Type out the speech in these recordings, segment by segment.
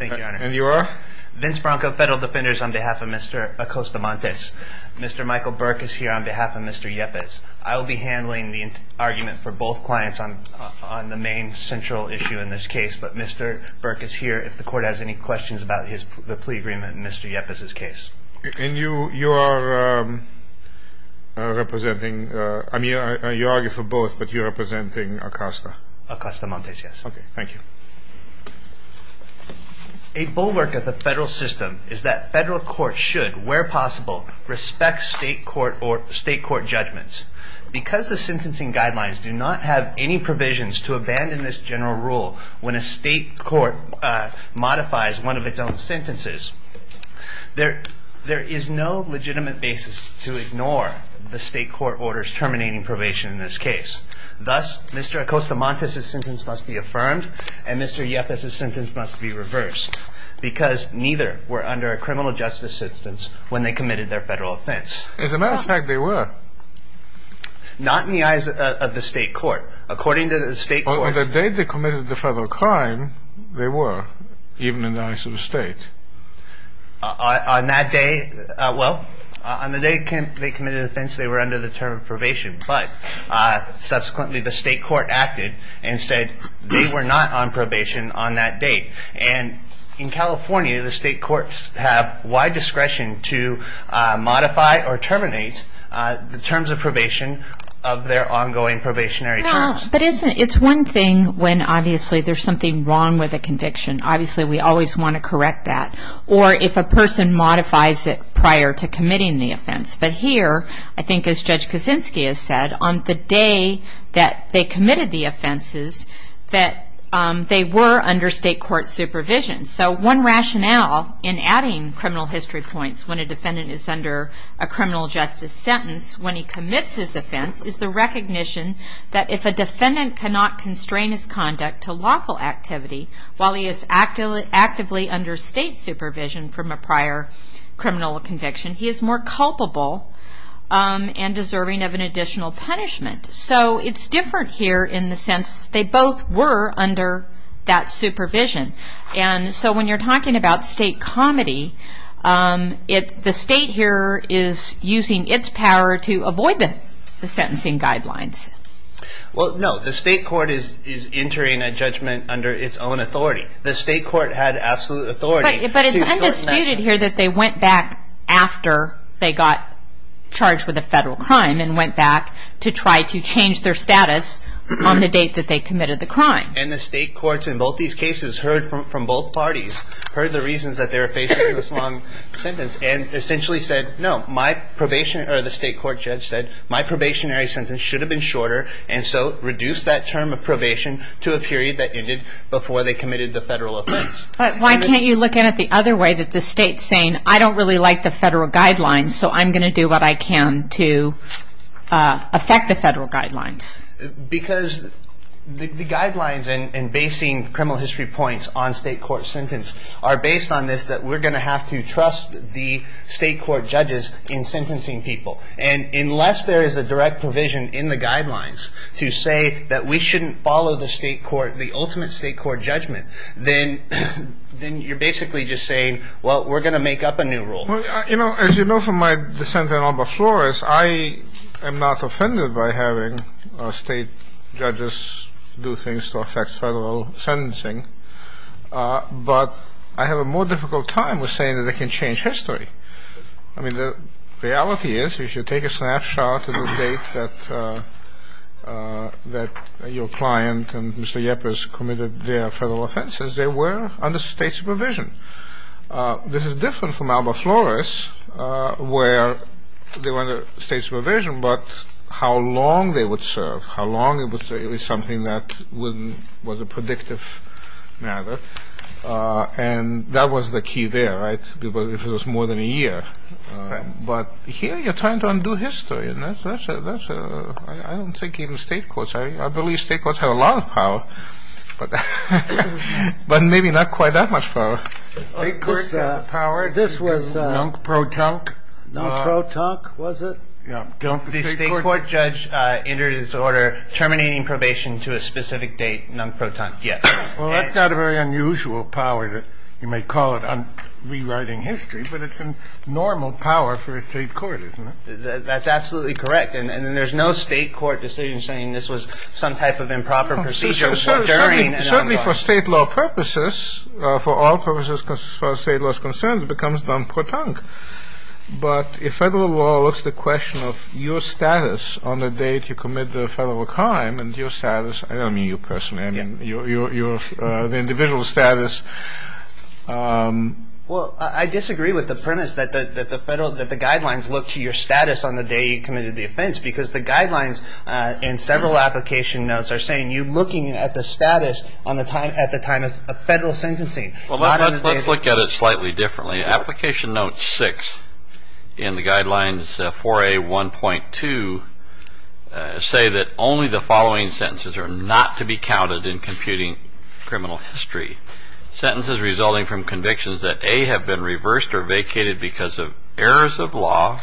Vince Bronco, Federal Defenders on behalf of Mr. Acosta-Montes. Mr. Michael Burke is here on behalf of Mr. Yepez. I will be handling the argument for both clients on the main central issue in this case, but Mr. Burke is here if the court has any questions about the plea agreement in Mr. Yepez's case. And you are representing, I mean, you argue for both, but you're representing Acosta. Acosta-Montes, yes. Okay, thank you. A bulwark of the federal system is that federal courts should, where possible, respect state court judgments. Because the sentencing guidelines do not have any provisions to abandon this general rule when a state court modifies one of its own sentences, there is no legitimate basis to ignore the state court orders terminating probation in this case. Thus, Mr. Acosta-Montes's sentence must be affirmed and Mr. Yepez's sentence must be reversed because neither were under a criminal justice sentence when they committed their federal offense. As a matter of fact, they were. Not in the eyes of the state court. According to the state court. On the day they committed the federal crime, they were, even in the eyes of the state. On that day, well, on the day they committed offense, they were under the term of probation. But subsequently, the state court acted and said they were not on probation on that date. And in California, the state courts have wide discretion to modify or terminate the terms of probation of their ongoing probationary terms. No, but it's one thing when, obviously, there's something wrong with a conviction. Obviously, we always want to correct that. Or if a person modifies it prior to committing the offense. But here, I think as Judge Kaczynski has said, on the day that they committed the offenses, that they were under state court supervision. So one rationale in adding criminal history points when a defendant is under a criminal justice sentence when he commits his offense is the recognition that if a defendant cannot constrain his conduct to lawful activity while he is actively under state supervision from a prior criminal conviction, he is more culpable and deserving of an additional punishment. So it's different here in the sense they both were under that supervision. And so when you're talking about state comedy, the state here is using its power to avoid the sentencing guidelines. Well, no, the state court is entering a judgment under its own authority. The state court had absolute authority. But it's undisputed here that they went back after they got charged with a federal crime and went back to try to change their status on the date that they committed the crime. And the state courts in both these cases heard from both parties, heard the reasons that they were facing this long sentence, and essentially said, no, the state court judge said, my probationary sentence should have been shorter, and so reduced that term of probation to a period that ended before they committed the federal offense. But why can't you look at it the other way, that the state's saying, I don't really like the federal guidelines, so I'm going to do what I can to affect the federal guidelines. Because the guidelines and basing criminal history points on state court sentence are based on this that we're going to have to trust the state court judges in sentencing people. And unless there is a direct provision in the guidelines to say that we shouldn't follow the state court, the ultimate state court judgment, then you're basically just saying, well, we're going to make up a new rule. Well, you know, as you know from my dissent in Alba Flores, I am not offended by having state judges do things to affect federal sentencing. But I have a more difficult time with saying that they can change history. I mean, the reality is, if you take a snapshot of the date that your client and Mr. Yepres committed their federal offenses, they were under state supervision. This is different from Alba Flores, where they were under state supervision, but how long they would serve, how long it was something that was a predictive matter. And that was the key there, right? Because if it was more than a year. But here you're trying to undo history. And that's a – I don't think even state courts – I believe state courts have a lot of power, but maybe not quite that much power. The state court got the power to nunk pro tonk. This was nunk pro tonk, was it? Yeah. The state court judge entered his order terminating probation to a specific date, nunk pro tonk, yes. Well, that's not a very unusual power. You may call it rewriting history, but it's a normal power for a state court, isn't it? That's absolutely correct. And there's no state court decision saying this was some type of improper procedure. Certainly for state law purposes, for all purposes as far as state law is concerned, it becomes nunk pro tonk. But if federal law looks at the question of your status on the date you commit the federal crime and your status – I don't mean you personally, I mean the individual status. Well, I disagree with the premise that the guidelines look to your status on the day you committed the offense because the guidelines in several application notes are saying you're looking at the status at the time of federal sentencing. Well, let's look at it slightly differently. Application note 6 in the guidelines 4A.1.2 say that only the following sentences are not to be counted in computing criminal history. Sentences resulting from convictions that A, have been reversed or vacated because of errors of law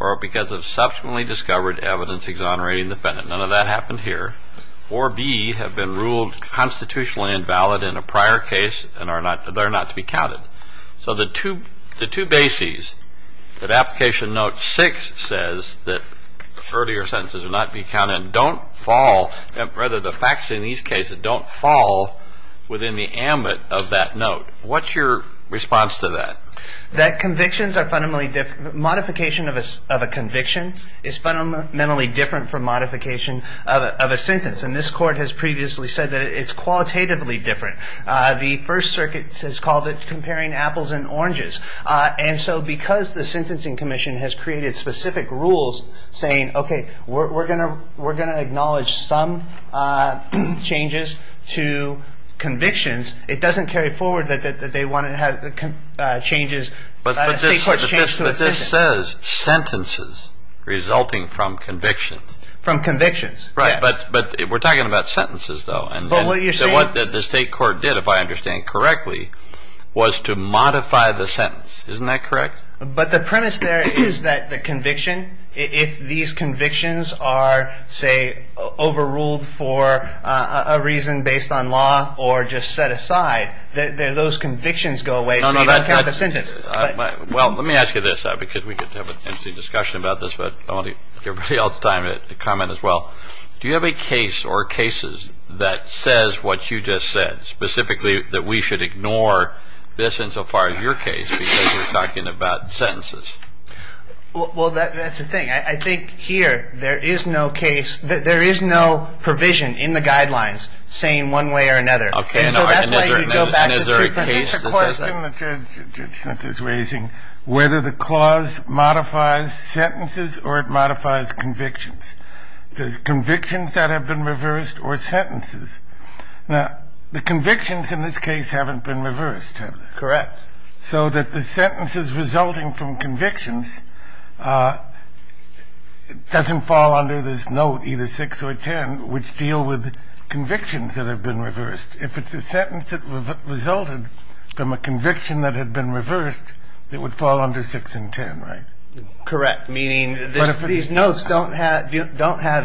or because of subsequently discovered evidence exonerating the defendant. None of that happened here. Or B, have been ruled constitutionally invalid in a prior case and are not to be counted. So the two bases that application note 6 says that earlier sentences are not to be counted don't fall – rather the facts in these cases don't fall within the ambit of that note. What's your response to that? That convictions are fundamentally – modification of a conviction is fundamentally different from modification of a sentence. And this court has previously said that it's qualitatively different. The First Circuit has called it comparing apples and oranges. And so because the Sentencing Commission has created specific rules saying, okay, we're going to acknowledge some changes to convictions, it doesn't carry forward that they want to have changes – But this says sentences resulting from convictions. From convictions, yes. Right, but we're talking about sentences though. So what the state court did, if I understand correctly, was to modify the sentence. Isn't that correct? But the premise there is that the conviction, if these convictions are, say, overruled for a reason based on law or just set aside, those convictions go away. They don't count the sentence. Well, let me ask you this because we could have an interesting discussion about this, but I want to give everybody else time to comment as well. Do you have a case or cases that says what you just said, specifically that we should ignore this insofar as your case because you're talking about sentences? Well, that's the thing. I think here there is no provision in the guidelines saying one way or another. And so that's why you go back to the previous question that Judge Smith is raising, whether the clause modifies sentences or it modifies convictions. Does convictions that have been reversed or sentences? Now, the convictions in this case haven't been reversed, have they? Correct. So that the sentences resulting from convictions doesn't fall under this note, either 6 or 10, which deal with convictions that have been reversed. If it's a sentence that resulted from a conviction that had been reversed, it would fall under 6 and 10, right? Correct. Meaning these notes don't have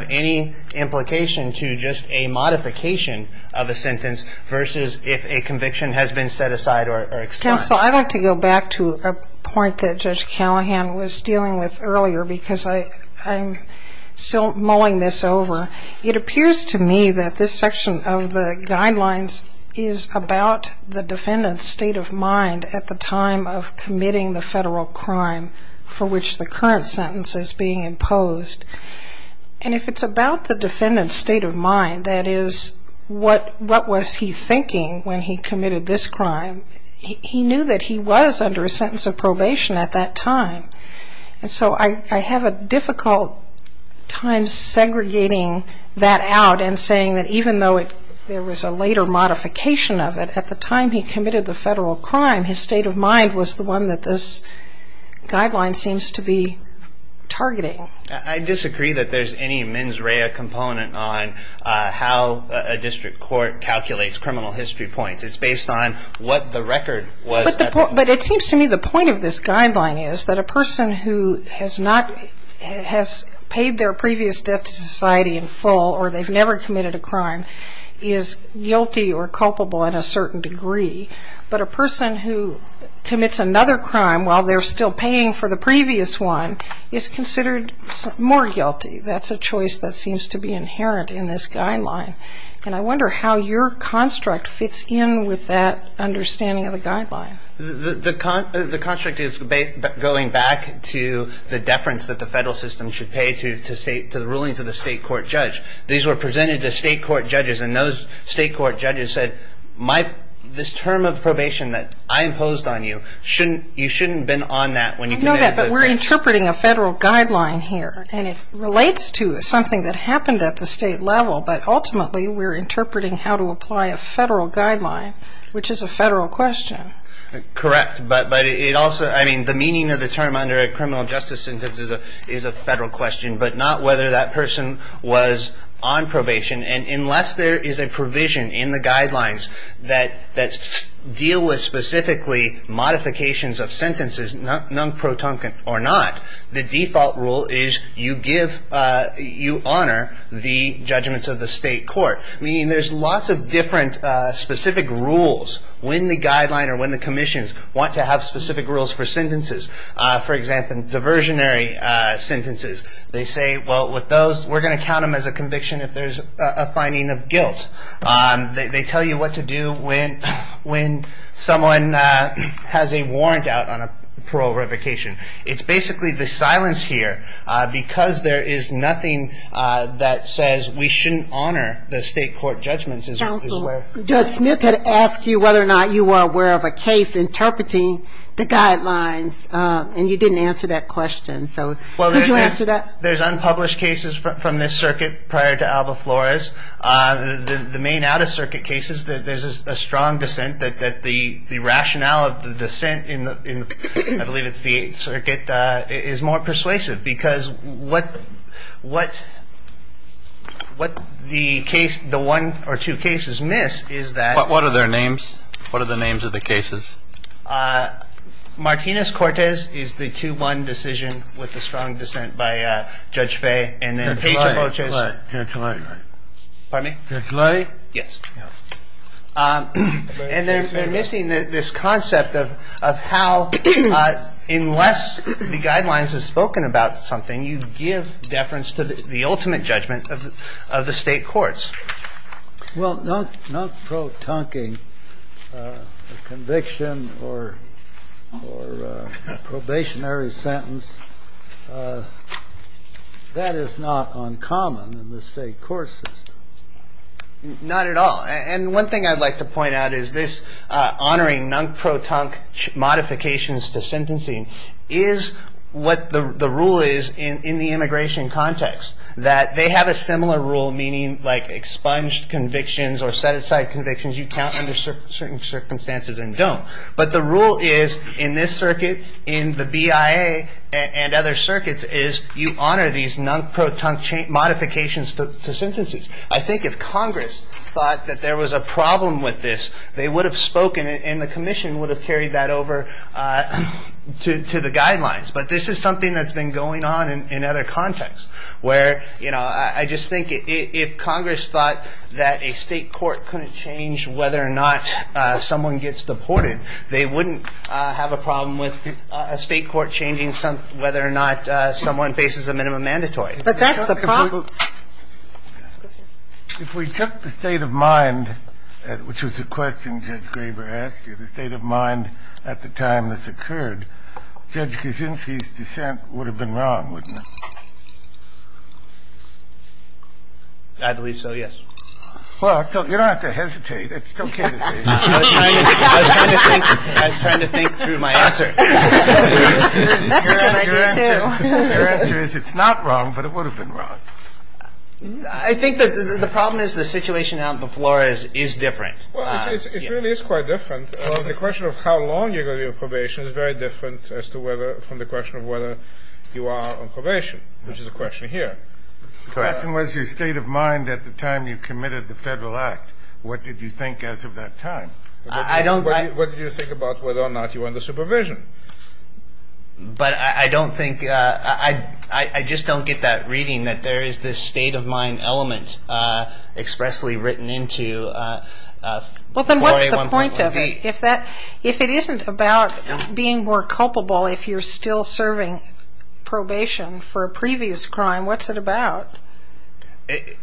any implication to just a modification of a sentence versus if a conviction has been set aside or explained. Counsel, I'd like to go back to a point that Judge Callahan was dealing with earlier because I'm still mulling this over. It appears to me that this section of the guidelines is about the defendant's state of mind at the time of committing the federal crime for which the current sentence is being imposed. And if it's about the defendant's state of mind, that is, what was he thinking when he committed this crime, he knew that he was under a sentence of probation at that time. And so I have a difficult time segregating that out and saying that even though there was a later modification of it, at the time he committed the federal crime, his state of mind was the one that this guideline seems to be targeting. I disagree that there's any mens rea component on how a district court calculates criminal history points. It's based on what the record was at the time. But it seems to me the point of this guideline is that a person who has paid their previous debt to society in full or they've never committed a crime is guilty or culpable in a certain degree. But a person who commits another crime while they're still paying for the previous one is considered more guilty. That's a choice that seems to be inherent in this guideline. And I wonder how your construct fits in with that understanding of the guideline. The construct is going back to the deference that the federal system should pay to the rulings of the state court judge. These were presented to state court judges and those state court judges said this term of probation that I imposed on you, you shouldn't have been on that when you committed the crime. But we're interpreting a federal guideline here. And it relates to something that happened at the state level, but ultimately we're interpreting how to apply a federal guideline, which is a federal question. Correct. But it also, I mean, the meaning of the term under a criminal justice sentence is a federal question, but not whether that person was on probation. And unless there is a provision in the guidelines that deal with specifically modifications of sentences, non-protuncant or not, the default rule is you give, you honor the judgments of the state court. Meaning there's lots of different specific rules. When the guideline or when the commissions want to have specific rules for sentences, for example, diversionary sentences, they say, well, with those, we're going to count them as a conviction if there's a finding of guilt. They tell you what to do when someone has a warrant out on a parole revocation. It's basically the silence here because there is nothing that says we shouldn't honor the state court judgments. Judge Smith had asked you whether or not you were aware of a case interpreting the guidelines, and you didn't answer that question, so could you answer that? Well, there's unpublished cases from this circuit prior to Alba Flores. The main out-of-circuit cases, there's a strong dissent that the rationale of the dissent in, I believe it's the Eighth Circuit, is more persuasive because what the case, the one or two cases miss is that. What are their names? What are the names of the cases? Martinez-Cortez is the 2-1 decision with the strong dissent by Judge Faye. And then Pedro Boches. Perclay. Pardon me? Perclay. Yes. And they're missing this concept of how unless the guidelines have spoken about something, you give deference to the ultimate judgment of the state courts. Well, not protunking a conviction or a probationary sentence, that is not uncommon in the state court system. Not at all. And one thing I'd like to point out is this honoring non-protunk modifications to sentencing is what the rule is in the immigration context, that they have a similar rule, meaning like expunged convictions or set-aside convictions you count under certain circumstances and don't. But the rule is in this circuit, in the BIA and other circuits, is you honor these non-protunk modifications to sentences. I think if Congress thought that there was a problem with this, they would have spoken and the commission would have carried that over to the guidelines. But this is something that's been going on in other contexts where, you know, I just think if Congress thought that a state court couldn't change whether or not someone gets deported, they wouldn't have a problem with a state court changing whether or not someone faces a minimum mandatory. But that's the problem. If we took the state of mind, which was a question Judge Graber asked you, the state of mind at the time this occurred, Judge Kuczynski's dissent would have been wrong, wouldn't it? I believe so, yes. Well, you don't have to hesitate. It's okay to hesitate. I was trying to think through my answer. That's a good idea, too. Your answer is it's not wrong, but it would have been wrong. I think the problem is the situation out on the floor is different. Well, it really is quite different. The question of how long you're going to be on probation is very different as to whether from the question of whether you are on probation, which is a question here. The question was your state of mind at the time you committed the Federal Act. What did you think as of that time? What did you think about whether or not you were under supervision? But I don't think ñ I just don't get that reading that there is this state of mind element expressly written into 4A1.48. Well, then what's the point of it? If it isn't about being more culpable if you're still serving probation for a previous crime, what's it about?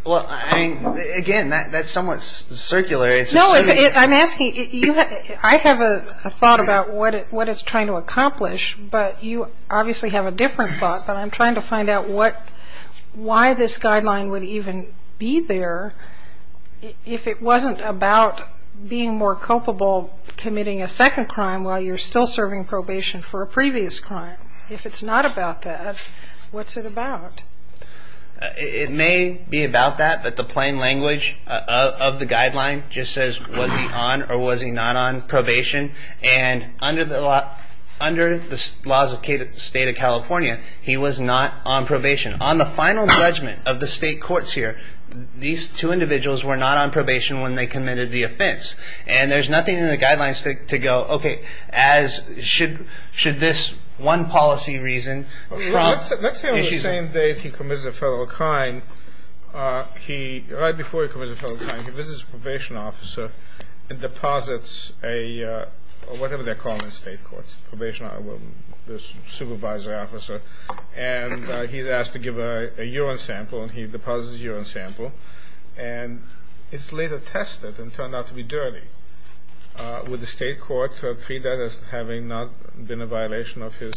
Well, I mean, again, that's somewhat circular. No, it's ñ I'm asking ñ I have a thought about what it's trying to accomplish, but you obviously have a different thought. But I'm trying to find out what ñ why this guideline would even be there if it wasn't about being more culpable, committing a second crime while you're still serving probation for a previous crime. If it's not about that, what's it about? It may be about that, but the plain language of the guideline just says, was he on or was he not on probation? And under the laws of the state of California, he was not on probation. On the final judgment of the state courts here, these two individuals were not on probation when they committed the offense. And there's nothing in the guidelines to go, okay, as should this one policy reason from ñ Let's say on the same day he commits a federal crime, he ñ right before he commits a federal crime, he visits a probation officer and deposits a ñ whatever they're calling it in state courts, probation ñ well, this supervisor officer. And he's asked to give a urine sample, and he deposits a urine sample. And it's later tested and turned out to be dirty. Would the state court treat that as having not been a violation of his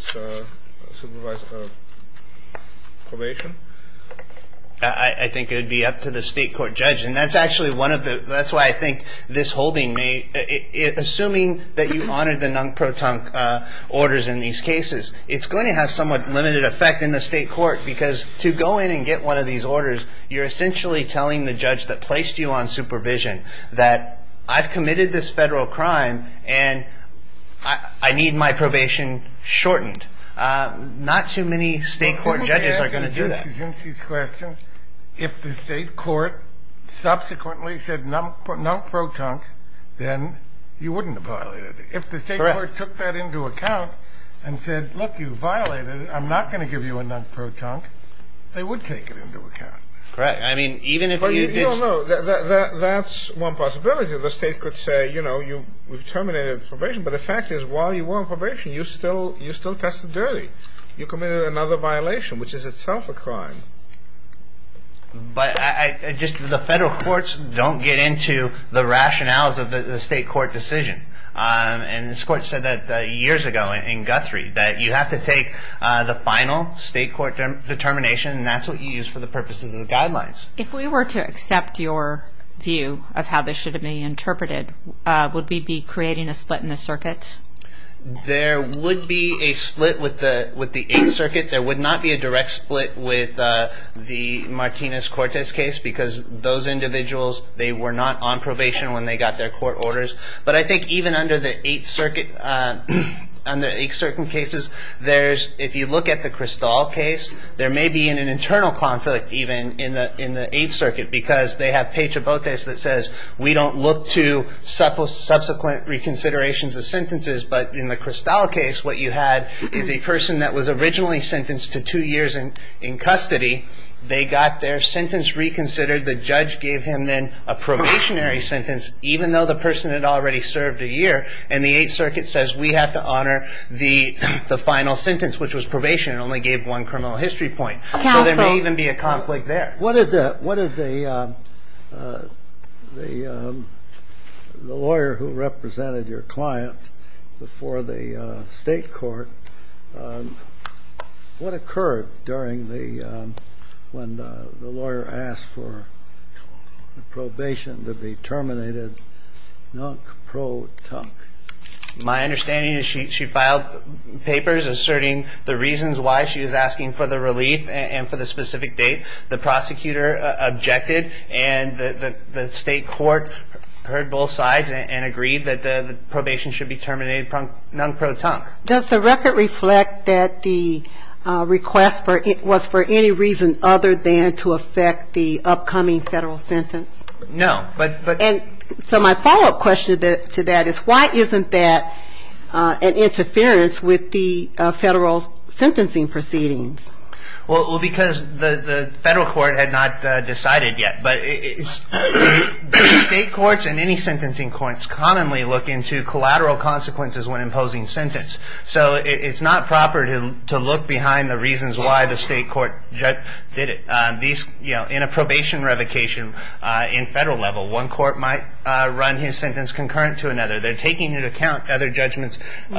supervisor probation? I think it would be up to the state court judge. And that's actually one of the ñ that's why I think this holding may ñ assuming that you honor the non-proton orders in these cases, it's going to have somewhat limited effect in the state court because to go in and get one of these orders, you're essentially telling the judge that placed you on supervision that, I've committed this federal crime, and I need my probation shortened. Not too many state court judges are going to do that. Well, let me ask Mr. Zinzi's question. If the state court subsequently said non-proton, then you wouldn't have violated it. Correct. If the state court took that into account and said, look, you violated it, I'm not going to give you a non-proton, they would take it into account. Correct. I mean, even if you did ñ No, no, no. That's one possibility. The state could say, you know, you've terminated probation. But the fact is, while you were on probation, you still tested dirty. You committed another violation, which is itself a crime. But I just ñ the federal courts don't get into the rationales of the state court decision. And this court said that years ago in Guthrie that you have to take the final state court determination, and that's what you use for the purposes of the guidelines. If we were to accept your view of how this should be interpreted, would we be creating a split in the circuit? There would be a split with the 8th Circuit. There would not be a direct split with the Martinez-Cortez case because those individuals, they were not on probation when they got their court orders. But I think even under the 8th Circuit, under 8th Circuit cases, there's ñ if you look at the Kristall case, there may be an internal conflict even in the 8th Circuit because they have pejabotes that says we don't look to subsequent reconsiderations of sentences. But in the Kristall case, what you had is a person that was originally sentenced to two years in custody. They got their sentence reconsidered. The judge gave him then a probationary sentence, even though the person had already served a year. And the 8th Circuit says we have to honor the final sentence, which was probation. It only gave one criminal history point. So there may even be a conflict there. What did the ñ the lawyer who represented your client before the state court ñ what occurred during the ñ when the lawyer asked for the probation to be terminated, nunk, pro, tunk? My understanding is she filed papers asserting the reasons why she was asking for the relief and for the specific date. The prosecutor objected, and the state court heard both sides and agreed that the probation should be terminated nunk, pro, tunk. Does the record reflect that the request was for any reason other than to affect the upcoming federal sentence? No, but ñ And so my follow-up question to that is why isn't that an interference with the federal sentencing proceedings? Well, because the federal court had not decided yet. But state courts and any sentencing courts commonly look into collateral consequences when imposing sentence. So it's not proper to look behind the reasons why the state court did it. These ñ you know, in a probation revocation in federal level, one court might run his sentence concurrent to another. They're taking into account other judgments. You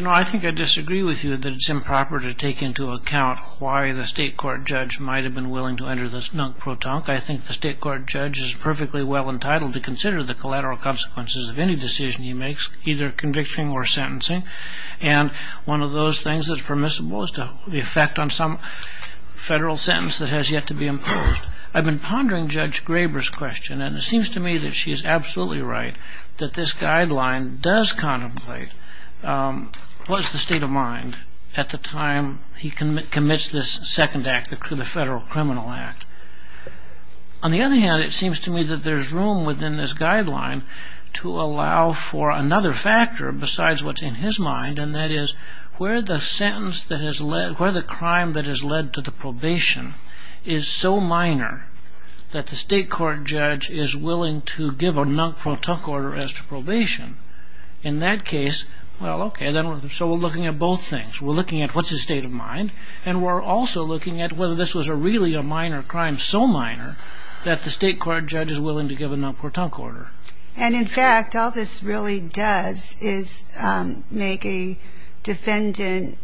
know, I think I disagree with you that it's improper to take into account why the state court judge might have been willing to enter this nunk, pro, tunk. I think the state court judge is perfectly well entitled to consider the collateral consequences of any decision he makes, either conviction or sentencing. And one of those things that's permissible is the effect on some federal sentence that has yet to be imposed. I've been pondering Judge Graber's question, and it seems to me that she's absolutely right, that this guideline does contemplate what's the state of mind at the time he commits this second act, the Federal Criminal Act. On the other hand, it seems to me that there's room within this guideline to allow for another factor besides what's in his mind, and that is where the sentence that has led ñ where the crime that has led to the probation is so minor that the state court judge is willing to give a nunk, pro, tunk order as to probation. In that case, well, okay, so we're looking at both things. We're looking at what's his state of mind, and we're also looking at whether this was really a minor crime, so minor that the state court judge is willing to give a nunk, pro, tunk order. And, in fact, all this really does is make a defendant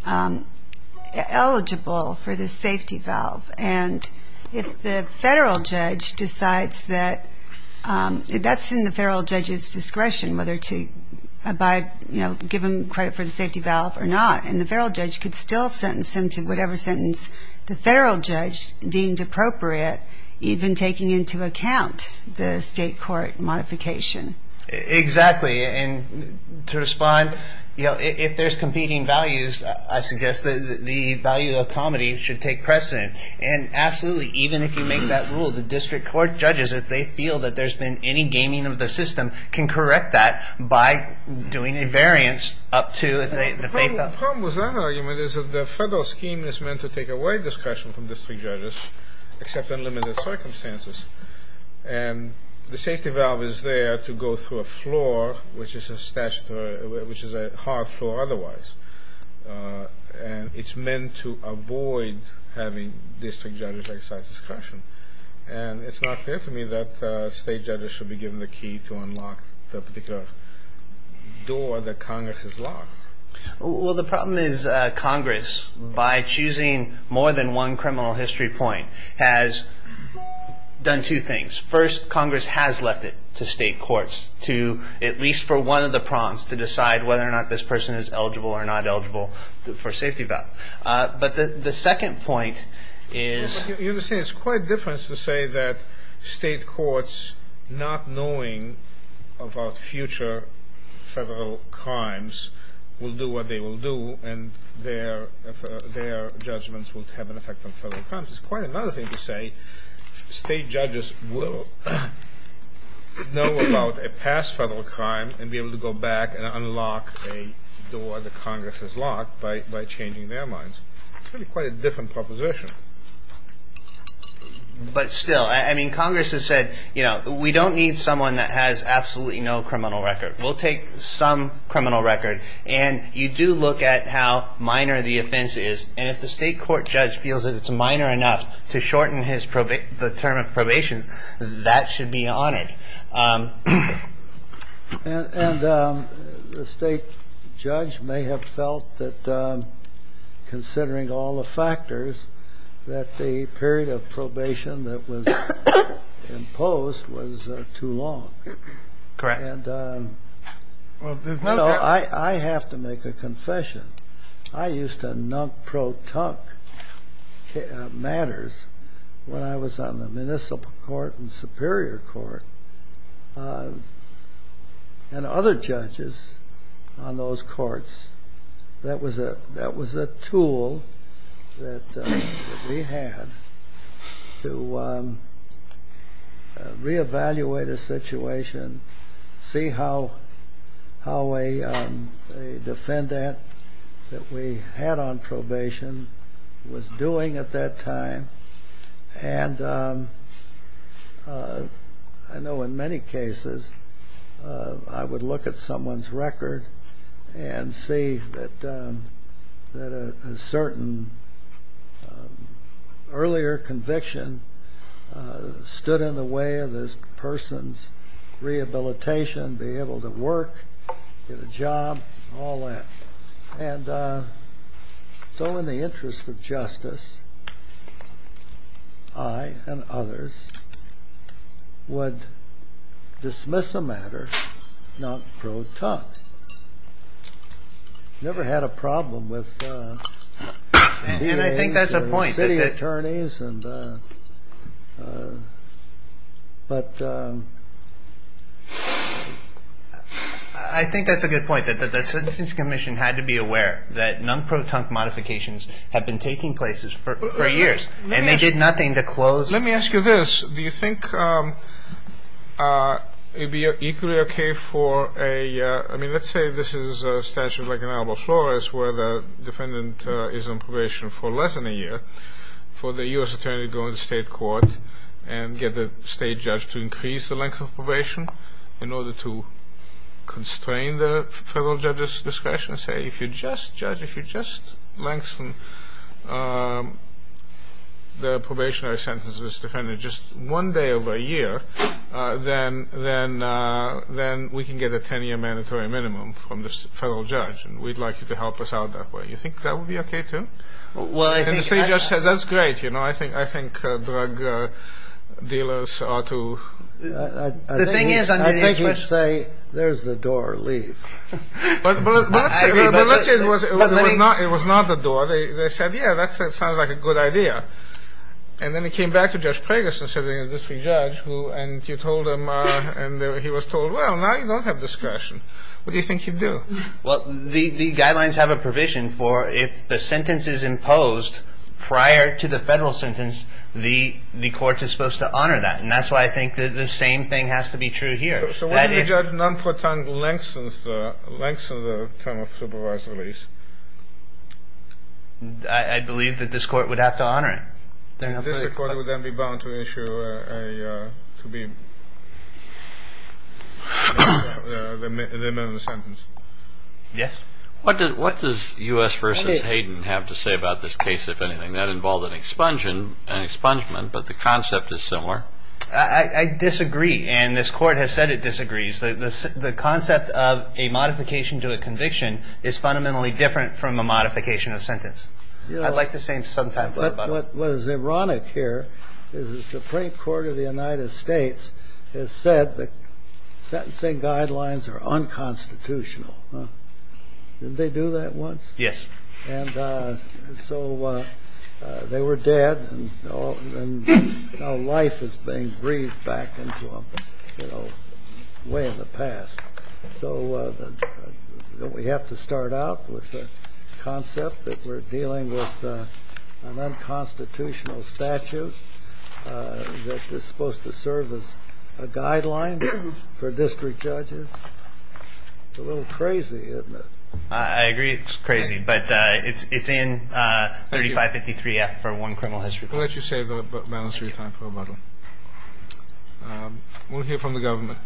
eligible for the safety valve. And if the federal judge decides that ñ that's in the federal judge's discretion, whether to abide, you know, give him credit for the safety valve or not. And the federal judge could still sentence him to whatever sentence the federal judge deemed appropriate, even taking into account the state court modification. Exactly, and to respond, you know, if there's competing values, I suggest that the value of comity should take precedent. And absolutely, even if you make that rule, the district court judges, if they feel that there's been any gaming of the system, can correct that by doing a variance up to the fatal. The problem with that argument is that the federal scheme is meant to take away discretion from district judges, except in limited circumstances. And the safety valve is there to go through a floor which is a statutory ñ which is a hard floor otherwise. And it's meant to avoid having district judges exercise discretion. And it's not fair to me that state judges should be given the key to unlock the particular door that Congress has locked. Well, the problem is Congress, by choosing more than one criminal history point, has done two things. First, Congress has left it to state courts to, at least for one of the prompts, to decide whether or not this person is eligible or not eligible for a safety valve. But the second point is ñ You understand, it's quite different to say that state courts not knowing about future federal crimes will do what they will do, and their judgments will have an effect on federal crimes. It's quite another thing to say state judges will know about a past federal crime and be able to go back and unlock a door that Congress has locked by changing their minds. It's really quite a different proposition. But still, I mean, Congress has said, you know, we don't need someone that has absolutely no criminal record. We'll take some criminal record. And you do look at how minor the offense is. And if the state court judge feels that it's minor enough to shorten the term of probation, that should be honored. And the state judge may have felt that, considering all the factors, that the period of probation that was imposed was too long. Correct. And, you know, I have to make a confession. I used to nunk pro-tunk matters when I was on the municipal court and superior court. And other judges on those courts, that was a tool that we had to reevaluate a situation, see how a defendant that we had on probation was doing at that time. And I know in many cases I would look at someone's record and see that a certain earlier conviction stood in the way of this person's rehabilitation, be able to work, get a job, all that. And so in the interest of justice, I and others would dismiss a matter, nunk pro-tunk. Never had a problem with DAs and city attorneys. And I think that's a point. I think that the sentencing commission had to be aware that nunk pro-tunk modifications had been taking place for years. And they did nothing to close. Let me ask you this. Do you think it would be equally okay for a, I mean, let's say this is a statute like in Alba Flores where the defendant is on probation for less than a year, for the U.S. attorney to go into state court and get the state judge to increase the length of probation in order to constrain the federal judge's discretion and say, if you just judge, if you just lengthen the probationary sentences of this defendant just one day over a year, then we can get a 10-year mandatory minimum from the federal judge. And we'd like you to help us out that way. Do you think that would be okay, too? Well, I think... And the state judge said, that's great. I think drug dealers ought to... The thing is... I think they should say, there's the door, leave. But let's say it was not the door. They said, yeah, that sounds like a good idea. And then they came back to Judge Preggis and said, is this the judge? And you told him, and he was told, well, now you don't have discretion. What do you think you'd do? Well, the guidelines have a provision for if the sentence is imposed prior to the federal sentence, the court is supposed to honor that. And that's why I think the same thing has to be true here. So wouldn't a judge non-proton lengthen the term of supervised release? I believe that this court would have to honor it. This court would then be bound to issue a, to be, the minimum sentence. Yes. What does U.S. v. Hayden have to say about this case, if anything? That involved an expungement, but the concept is similar. I disagree. And this court has said it disagrees. The concept of a modification to a conviction is fundamentally different from a modification of sentence. I'd like to save some time for the final. What is ironic here is the Supreme Court of the United States has said that sentencing guidelines are unconstitutional. Didn't they do that once? Yes. And so they were dead and now life is being breathed back into them, you know, way in the past. So don't we have to start out with the concept that we're dealing with an unconstitutional statute that is supposed to serve as a guideline for district judges? It's a little crazy, isn't it? I agree it's crazy. But it's in 3553F for one criminal history. We'll let you save the balance of your time for a moment. We'll hear from the government.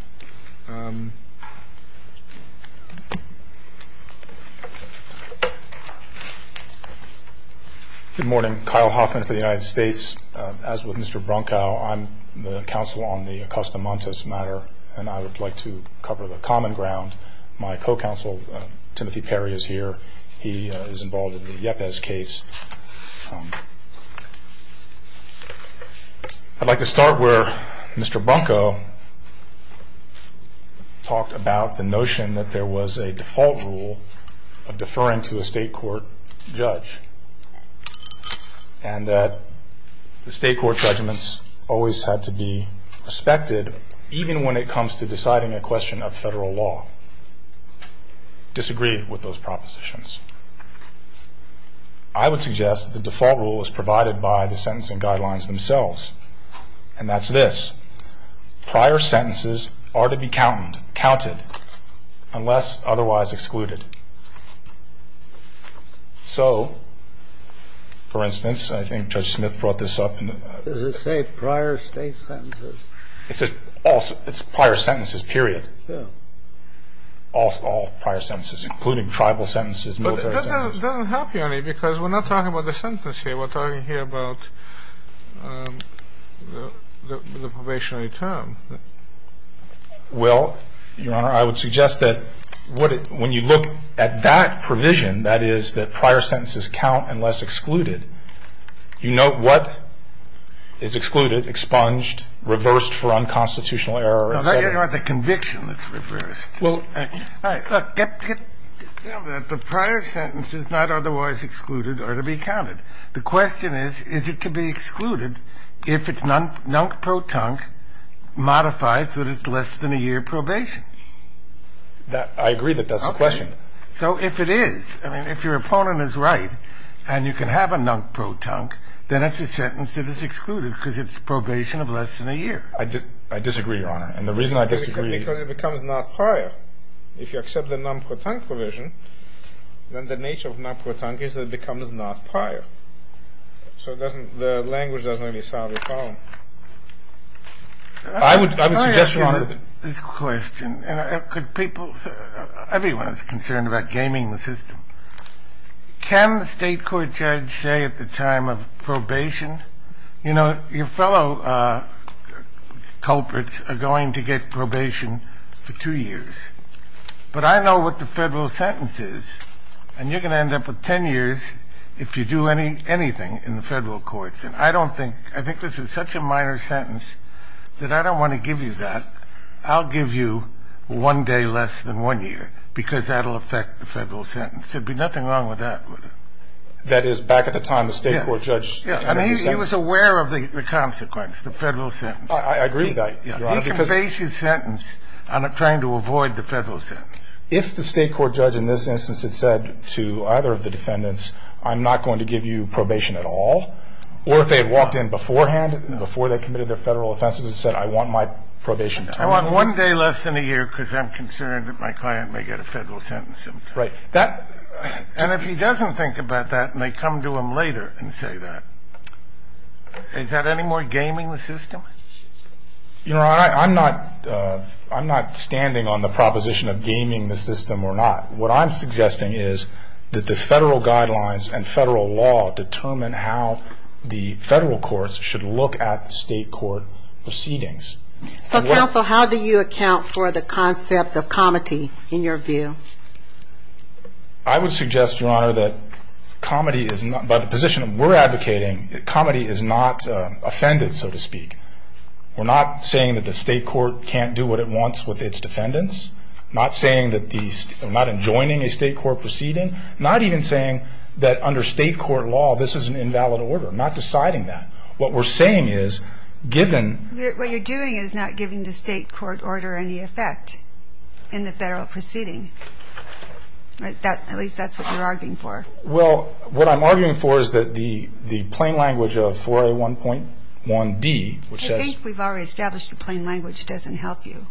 Good morning. Kyle Hoffman for the United States. As with Mr. Bronkow, I'm the counsel on the Acosta Montes matter, and I would like to cover the common ground. My co-counsel, Timothy Perry, is here. He is involved in the Yepez case. I'd like to start where Mr. Bronkow talked about the notion that there was a default rule of deferring to a state court judge and that the state court judgments always had to be respected, even when it comes to deciding a question of federal law. I would suggest that the default rule is provided by the sentencing guidelines themselves, and that's this. Prior sentences are to be counted unless otherwise excluded. So, for instance, I think Judge Smith brought this up. Does it say prior state sentences? It's prior sentences, period. All prior sentences, including tribal sentences, military sentences. But that doesn't help you any, because we're not talking about the sentence here. We're talking here about the probationary term. Well, Your Honor, I would suggest that when you look at that provision, that is that prior sentences count unless excluded, you note what is excluded, expunged, reversed for unconstitutional error, et cetera. You don't want the conviction that's reversed. All right. Look, get down to that. The prior sentence is not otherwise excluded or to be counted. The question is, is it to be excluded if it's non-protunct, modified so that it's less than a year probation? I agree that that's the question. So if it is, I mean, if your opponent is right and you can have a non-protunct, then it's a sentence that is excluded because it's probation of less than a year. I disagree, Your Honor. And the reason I disagree... Because it becomes not prior. If you accept the non-protunct provision, then the nature of non-protunct is that it becomes not prior. So the language doesn't really solve the problem. I would suggest, Your Honor... Let me ask you this question. Everyone is concerned about gaming the system. Can the state court judge say at the time of probation, you know, your fellow culprits are going to get probation for two years, but I know what the federal sentence is, and you're going to end up with 10 years if you do anything in the federal courts. And I don't think – I think this is such a minor sentence that I don't want to give you that. I'll give you one day less than one year because that will affect the federal sentence. There would be nothing wrong with that, would it? That is, back at the time, the state court judge... Yeah. And he was aware of the consequence, the federal sentence. I agree with that, Your Honor, because... He can base his sentence on trying to avoid the federal sentence. If the state court judge in this instance had said to either of the defendants, I'm not going to give you probation at all, or if they had walked in beforehand, before they committed their federal offenses, and said, I want my probation 10 years... I want one day less than a year because I'm concerned that my client may get a federal sentence. Right. And if he doesn't think about that and they come to him later and say that, is that any more gaming the system? Your Honor, I'm not standing on the proposition of gaming the system or not. What I'm suggesting is that the federal guidelines and federal law determine how the federal courts should look at state court proceedings. So, counsel, how do you account for the concept of comedy, in your view? I would suggest, Your Honor, that comedy is not... By the position that we're advocating, comedy is not offended, so to speak. We're not saying that the state court can't do what it wants with its defendants, not saying that the... not enjoining a state court proceeding, not even saying that under state court law this is an invalid order, not deciding that. What we're saying is, given... What you're doing is not giving the state court order any effect in the federal proceeding. At least that's what you're arguing for. Well, what I'm arguing for is that the plain language of 4A1.1d, which says... I think we've already established the plain language doesn't help you.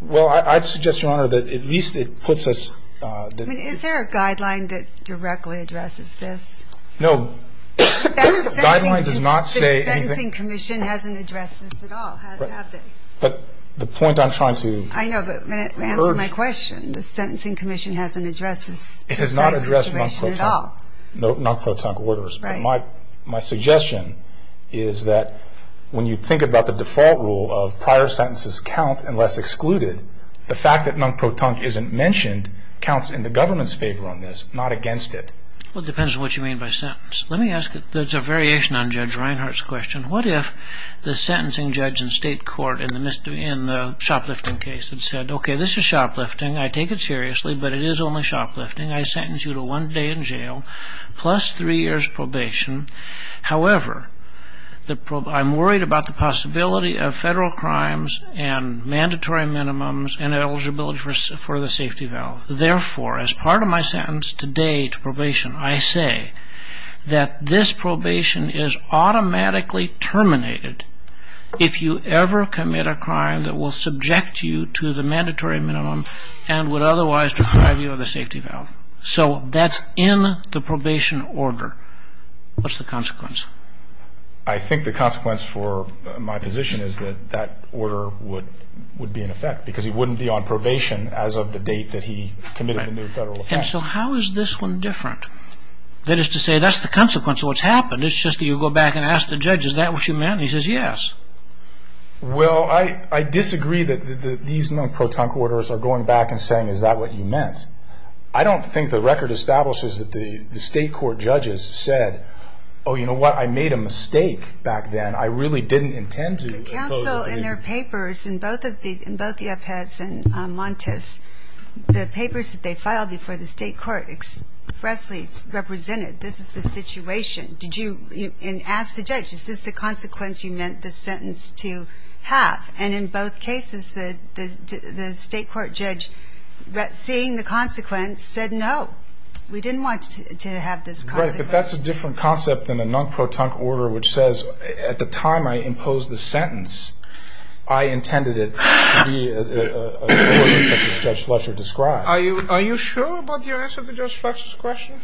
Well, I'd suggest, Your Honor, that at least it puts us... I mean, is there a guideline that directly addresses this? No. Guideline does not say anything... The Sentencing Commission hasn't addressed this at all, have they? But the point I'm trying to urge... I know, but answer my question. The Sentencing Commission hasn't addressed this precise situation at all. It has not addressed non-pro-tunk orders. Right. But my suggestion is that when you think about the default rule of prior sentences count unless excluded, the fact that non-pro-tunk isn't mentioned counts in the government's favor on this, not against it. Well, it depends on what you mean by sentence. Let me ask... There's a variation on Judge Reinhart's question. What if the sentencing judge in state court in the shoplifting case had said, Okay, this is shoplifting. I take it seriously, but it is only shoplifting. I sentence you to one day in jail plus three years' probation. However, I'm worried about the possibility of federal crimes and mandatory minimums and eligibility for the safety valve. Therefore, as part of my sentence today to probation, I say that this probation is automatically terminated if you ever commit a crime that will subject you to the mandatory minimum and would otherwise deprive you of the safety valve. So that's in the probation order. What's the consequence? I think the consequence for my position is that that order would be in effect because he wouldn't be on probation as of the date that he committed the new federal offense. So how is this one different? That is to say, that's the consequence of what's happened. It's just that you go back and ask the judge, Is that what you meant? And he says yes. Well, I disagree that these non-pro-tunk orders are going back and saying, Is that what you meant? I don't think the record establishes that the state court judges said, Oh, you know what? I made a mistake back then. I really didn't intend to. But counsel, in their papers, in both the Epes and Montes, the papers that they filed before the state court expressly represented, This is the situation. And ask the judge, Is this the consequence you meant the sentence to have? And in both cases, the state court judge, seeing the consequence, said no. We didn't want to have this consequence. Right, but that's a different concept than a non-pro-tunk order, which says at the time I imposed the sentence, I intended it to be a voice as Judge Fletcher described. Are you sure about your answer to Judge Fletcher's question?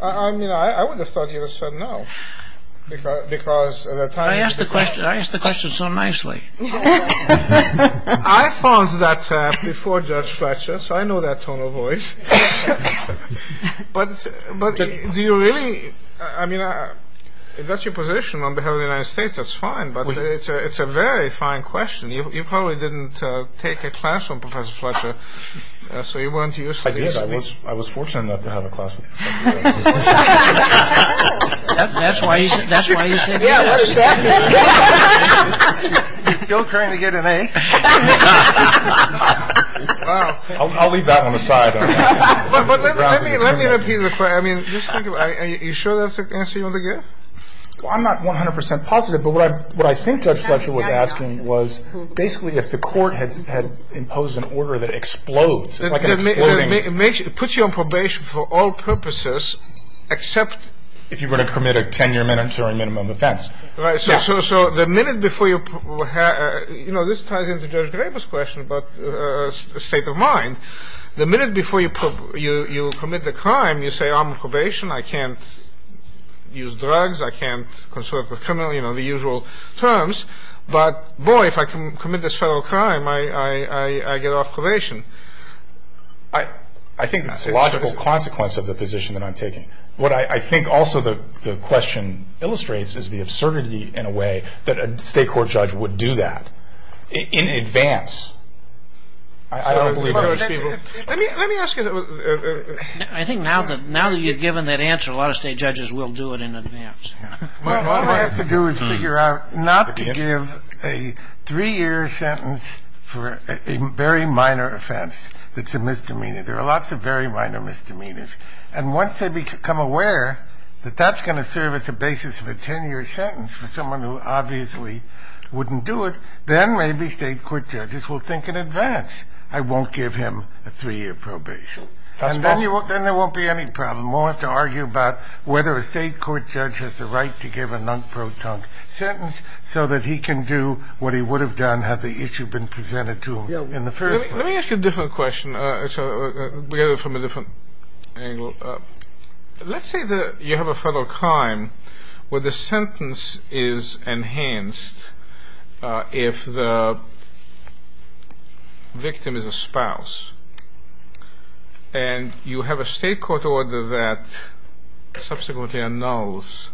I mean, I would have thought you would have said no. I asked the question so nicely. I found that before Judge Fletcher, so I know that tone of voice. But do you really, I mean, if that's your position on behalf of the United States, that's fine. But it's a very fine question. You probably didn't take a class from Professor Fletcher, so you weren't used to this. I did. I was fortunate enough to have a class with Professor Fletcher. That's why you said yes. Still trying to get an A. I'll leave that one aside. But let me repeat the point. I mean, just think about it. Are you sure that's the answer you want to give? Well, I'm not 100 percent positive. But what I think Judge Fletcher was asking was basically if the court had imposed an order that explodes. It's like an exploding. It puts you on probation for all purposes except if you were to commit a 10-year mandatory minimum offense. Right. So the minute before you, you know, this ties into Judge Draper's question about state of mind. The minute before you commit the crime, you say I'm on probation. I can't use drugs. I can't consult with criminals, you know, the usual terms. But, boy, if I commit this federal crime, I get off probation. I think it's a logical consequence of the position that I'm taking. What I think also the question illustrates is the absurdity in a way that a state court judge would do that in advance. I don't believe most people. Let me ask you. I think now that you've given that answer, a lot of state judges will do it in advance. Well, all I have to do is figure out not to give a three-year sentence for a very minor offense that's a misdemeanor. There are lots of very minor misdemeanors. And once they become aware that that's going to serve as a basis of a 10-year sentence for someone who obviously wouldn't do it, then maybe state court judges will think in advance I won't give him a three-year probation. That's possible. And then there won't be any problem. We'll have to argue about whether a state court judge has the right to give a non-proton sentence so that he can do what he would have done had the issue been presented to him in the first place. Let me ask you a different question. We have it from a different angle. Let's say that you have a federal crime where the sentence is enhanced if the victim is a spouse and you have a state court order that subsequently annuls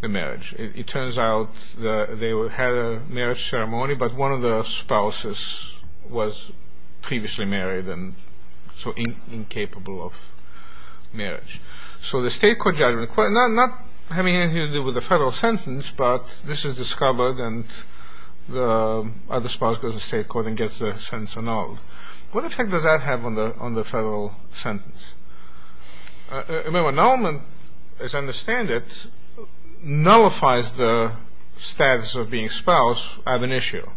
the marriage. It turns out that they had a marriage ceremony, but one of the spouses was previously married and so incapable of marriage. So the state court judgment, not having anything to do with the federal sentence, but this is discovered and the other spouse goes to state court and gets the sentence annulled. What effect does that have on the federal sentence? Remember annulment, as I understand it, nullifies the status of being a spouse ab initio.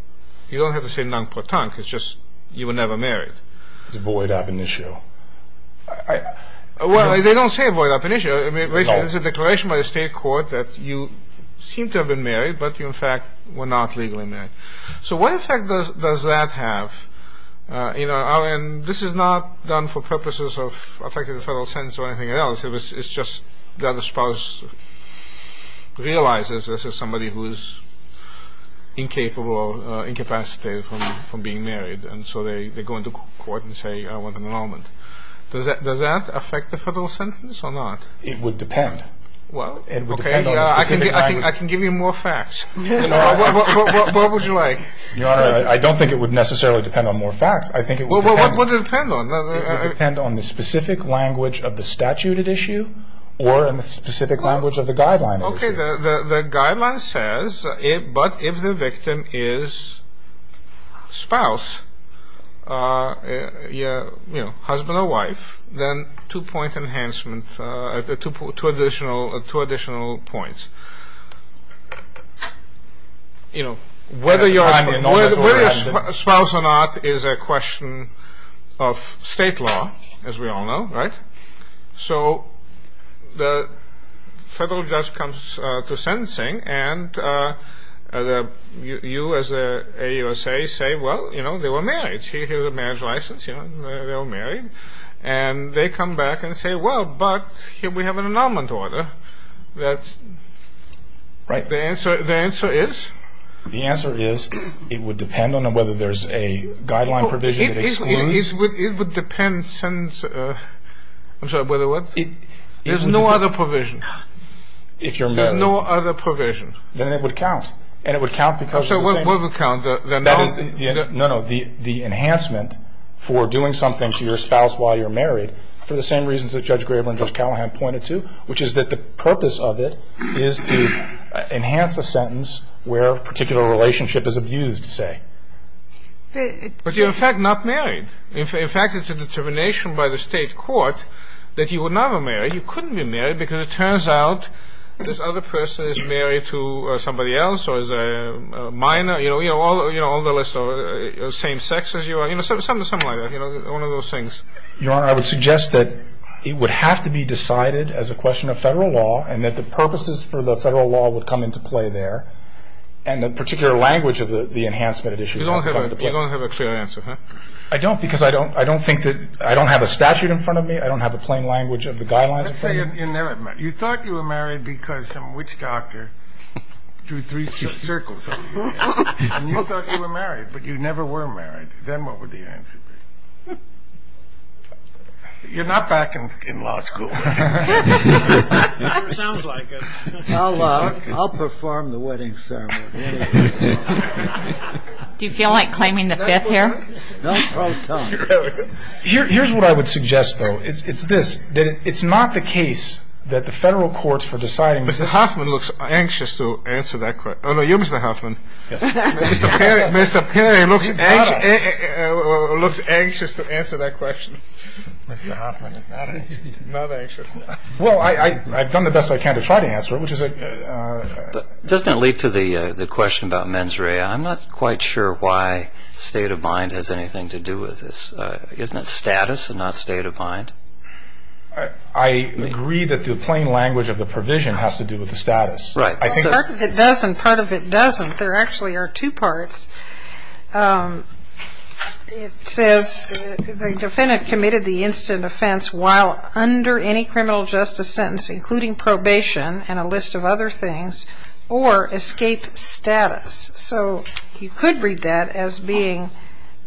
You don't have to say non-proton because you were never married. It's void ab initio. Well, they don't say void ab initio. There's a declaration by the state court that you seem to have been married, but you in fact were not legally married. So what effect does that have? And this is not done for purposes of affecting the federal sentence or anything else. It's just that the spouse realizes this is somebody who is incapable or incapacitated from being married, and so they go into court and say, I want an annulment. Does that affect the federal sentence or not? It would depend. Well, okay. It would depend on a specific act. I can give you more facts. What would you like? Your Honor, I don't think it would necessarily depend on more facts. I think it would depend. Well, what would it depend on? It would depend on the specific language of the statute at issue or on the specific language of the guideline at issue. Okay. The guideline says, but if the victim is spouse, husband or wife, then two-point enhancement, two additional points. You know, whether you're a spouse or not is a question of state law, as we all know, right? So the federal judge comes to sentencing, and you as the AUSA say, well, you know, they were married. Here's a marriage license, you know, they were married. And they come back and say, well, but here we have an annulment order that's, the answer is? The answer is it would depend on whether there's a guideline provision that excludes. It would depend since, I'm sorry, whether what? There's no other provision. If you're married. There's no other provision. Then it would count, and it would count because of the same. So what would count? No, no, the enhancement for doing something to your spouse while you're married for the same reasons that Judge Graber and Judge Callahan pointed to, which is that the purpose of it is to enhance a sentence where a particular relationship is abused, say. But you're, in fact, not married. In fact, it's a determination by the state court that you were never married. You couldn't be married because it turns out this other person is married to somebody else or is a minor, you know, all the rest of the same sex as you are. You know, something like that. You know, one of those things. Your Honor, I would suggest that it would have to be decided as a question of Federal law and that the purposes for the Federal law would come into play there and the particular language of the enhancement issue would come into play. You don't have a clear answer, huh? I don't because I don't think that I don't have a statute in front of me. I don't have a plain language of the guidelines in front of me. Let's say you're never married. You thought you were married because some witch doctor drew three circles over your head. And you thought you were married, but you never were married. Then what would the answer be? You're not back in law school. It never sounds like it. I'll perform the wedding ceremony. Do you feel like claiming the fifth here? No. Here's what I would suggest, though. It's this. It's not the case that the Federal courts for deciding this. Mr. Hoffman looks anxious to answer that question. Oh, no, you, Mr. Hoffman. Mr. Perry looks anxious to answer that question. Mr. Hoffman is not anxious. Well, I've done the best I can to try to answer it. Doesn't it lead to the question about mens rea? I'm not quite sure why state of mind has anything to do with this. Isn't it status and not state of mind? I agree that the plain language of the provision has to do with the status. Right. Part of it does and part of it doesn't. There actually are two parts. It says the defendant committed the instant offense while under any criminal justice sentence, including probation and a list of other things, or escape status. So you could read that as being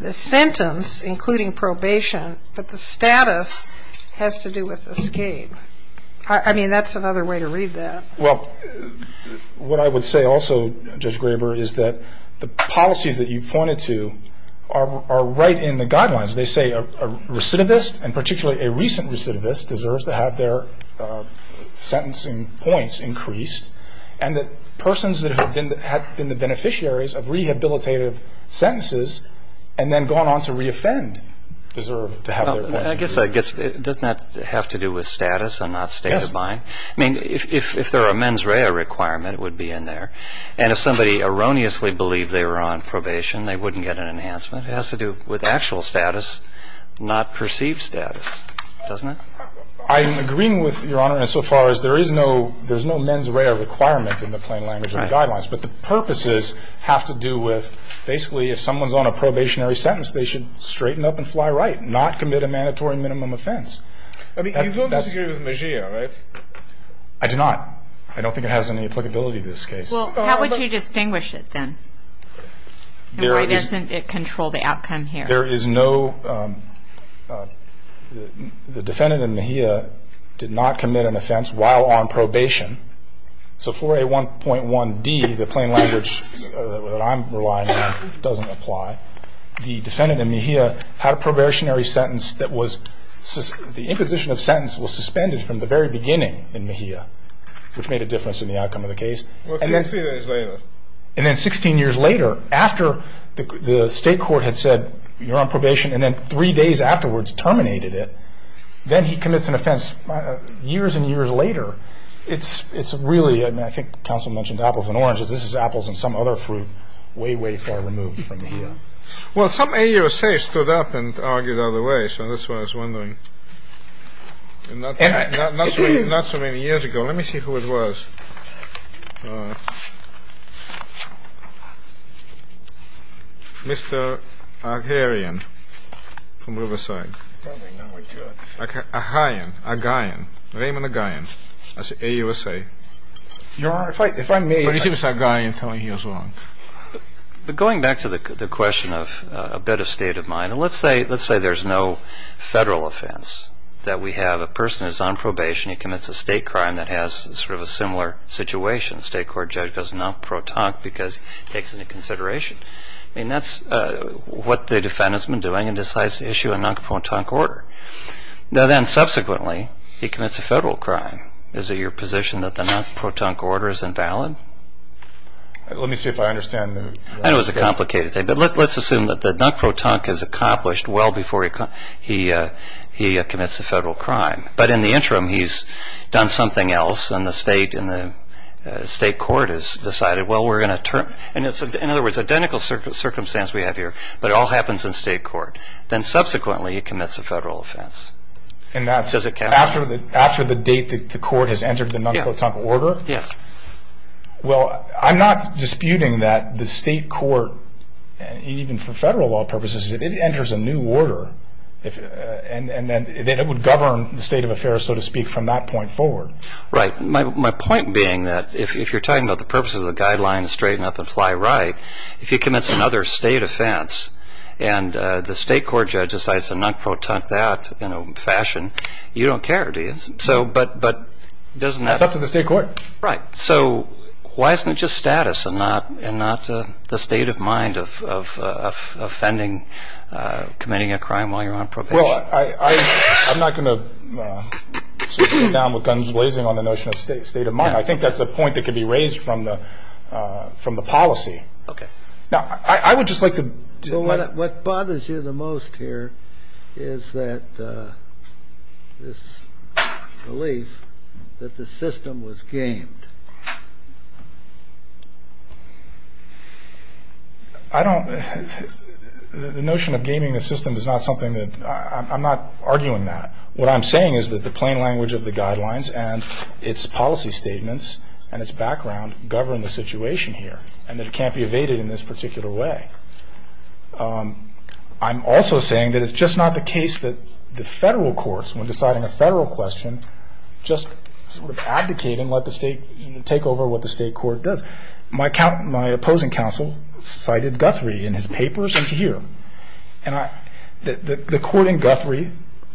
the sentence, including probation, but the status has to do with escape. I mean, that's another way to read that. Well, what I would say also, Judge Graber, is that the policies that you pointed to are right in the guidelines. They say a recidivist, and particularly a recent recidivist, deserves to have their sentencing points increased, and that persons that have been the beneficiaries of rehabilitative sentences and then gone on to reoffend deserve to have their points increased. I guess it does not have to do with status and not state of mind. Yes. I mean, if there are mens rea requirement, it would be in there. And if somebody erroneously believed they were on probation, they wouldn't get an enhancement. It has to do with actual status, not perceived status, doesn't it? I'm agreeing with Your Honor insofar as there is no mens rea requirement in the plain language of the guidelines. Right. But the purposes have to do with basically if someone's on a probationary sentence, they should straighten up and fly right, not commit a mandatory minimum offense. I mean, you don't disagree with Mejia, right? I do not. I don't think it has any applicability to this case. Well, how would you distinguish it then? And why doesn't it control the outcome here? There is no ‑‑ the defendant in Mejia did not commit an offense while on probation. So 4A1.1D, the plain language that I'm relying on, doesn't apply. The defendant in Mejia had a probationary sentence that was ‑‑ the imposition of sentence was suspended from the very beginning in Mejia, which made a difference in the outcome of the case. Well, three days later. And then 16 years later, after the state court had said you're on probation and then three days afterwards terminated it, then he commits an offense. Years and years later, it's really ‑‑ Well, some AUSA stood up and argued out of the way, so that's why I was wondering. Not so many years ago. Let me see who it was. Mr. Aghaian from Riverside. Aghaian. Raymond Aghaian. AUSA. But it seems Aghaian telling you he was wrong. But going back to the question of a bit of state of mind, let's say there's no federal offense. That we have a person who's on probation, he commits a state crime that has sort of a similar situation. The state court judge goes non‑protonque because it takes into consideration. I mean, that's what the defendant's been doing and decides to issue a non‑protonque order. Now then, subsequently, he commits a federal crime. Is it your position that the non‑protonque order is invalid? Let me see if I understand. I know it's a complicated thing, but let's assume that the non‑protonque is accomplished well before he commits a federal crime. But in the interim, he's done something else and the state court has decided, well, we're going to turn. In other words, identical circumstance we have here, but it all happens in state court. Then subsequently, he commits a federal offense. After the date the court has entered the non‑protonque order? Yes. Well, I'm not disputing that the state court, even for federal law purposes, if it enters a new order, then it would govern the state of affairs, so to speak, from that point forward. Right. My point being that if you're talking about the purposes of the guidelines, straighten up and fly right, if he commits another state offense and the state court judge decides to non‑protonque that in a fashion, you don't care, do you? That's up to the state court. Right. So why isn't it just status and not the state of mind of offending, committing a crime while you're on probation? Well, I'm not going to sit down with guns blazing on the notion of state of mind. I think that's a point that could be raised from the policy. Okay. Now, I would just like to— What bothers you the most here is that this belief that the system was gamed. I don't—the notion of gaming the system is not something that—I'm not arguing that. What I'm saying is that the plain language of the guidelines and its policy statements and its background govern the situation here and that it can't be evaded in this particular way. I'm also saying that it's just not the case that the federal courts, when deciding a federal question, just sort of abdicate and let the state take over what the state court does. My opposing counsel cited Guthrie in his papers and here. The court in Guthrie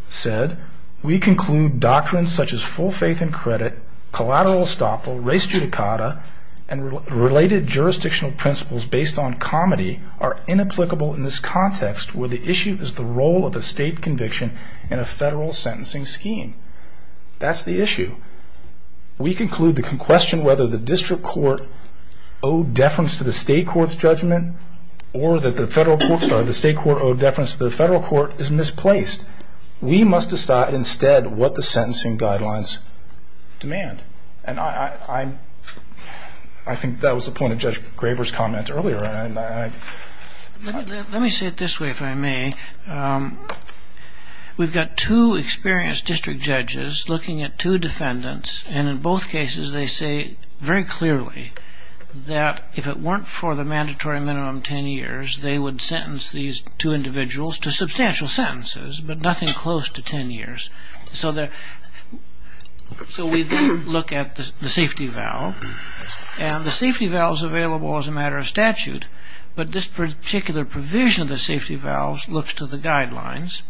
said, we conclude doctrines such as full faith and credit, collateral estoppel, race judicata, and related jurisdictional principles based on comedy are inapplicable in this context where the issue is the role of a state conviction in a federal sentencing scheme. That's the issue. We conclude the question whether the district court owed deference to the state court's judgment or that the state court owed deference to the federal court is misplaced. We must decide instead what the sentencing guidelines demand. I think that was the point of Judge Graber's comment earlier. Let me say it this way, if I may. We've got two experienced district judges looking at two defendants and in both cases they say very clearly that if it weren't for the mandatory minimum 10 years, they would sentence these two individuals to substantial sentences but nothing close to 10 years. So we then look at the safety valve and the safety valve is available as a matter of statute but this particular provision of the safety valve looks to the guidelines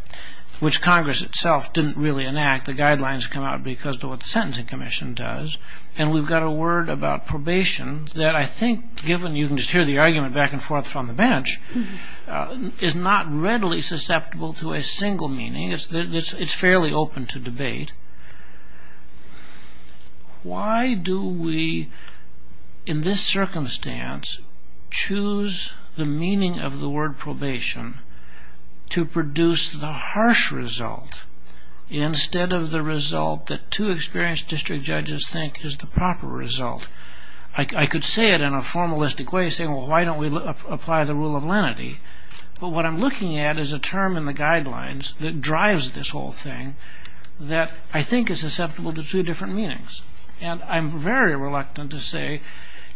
which Congress itself didn't really enact. The guidelines come out because of what the Sentencing Commission does and we've got a word about probation that I think, given you can just hear the argument back and forth from the bench, is not readily susceptible to a single meaning. I think it's fairly open to debate. Why do we, in this circumstance, choose the meaning of the word probation to produce the harsh result instead of the result that two experienced district judges think is the proper result? I could say it in a formalistic way saying, well, why don't we apply the rule of lenity? But what I'm looking at is a term in the guidelines that drives this whole thing that I think is susceptible to two different meanings and I'm very reluctant to say,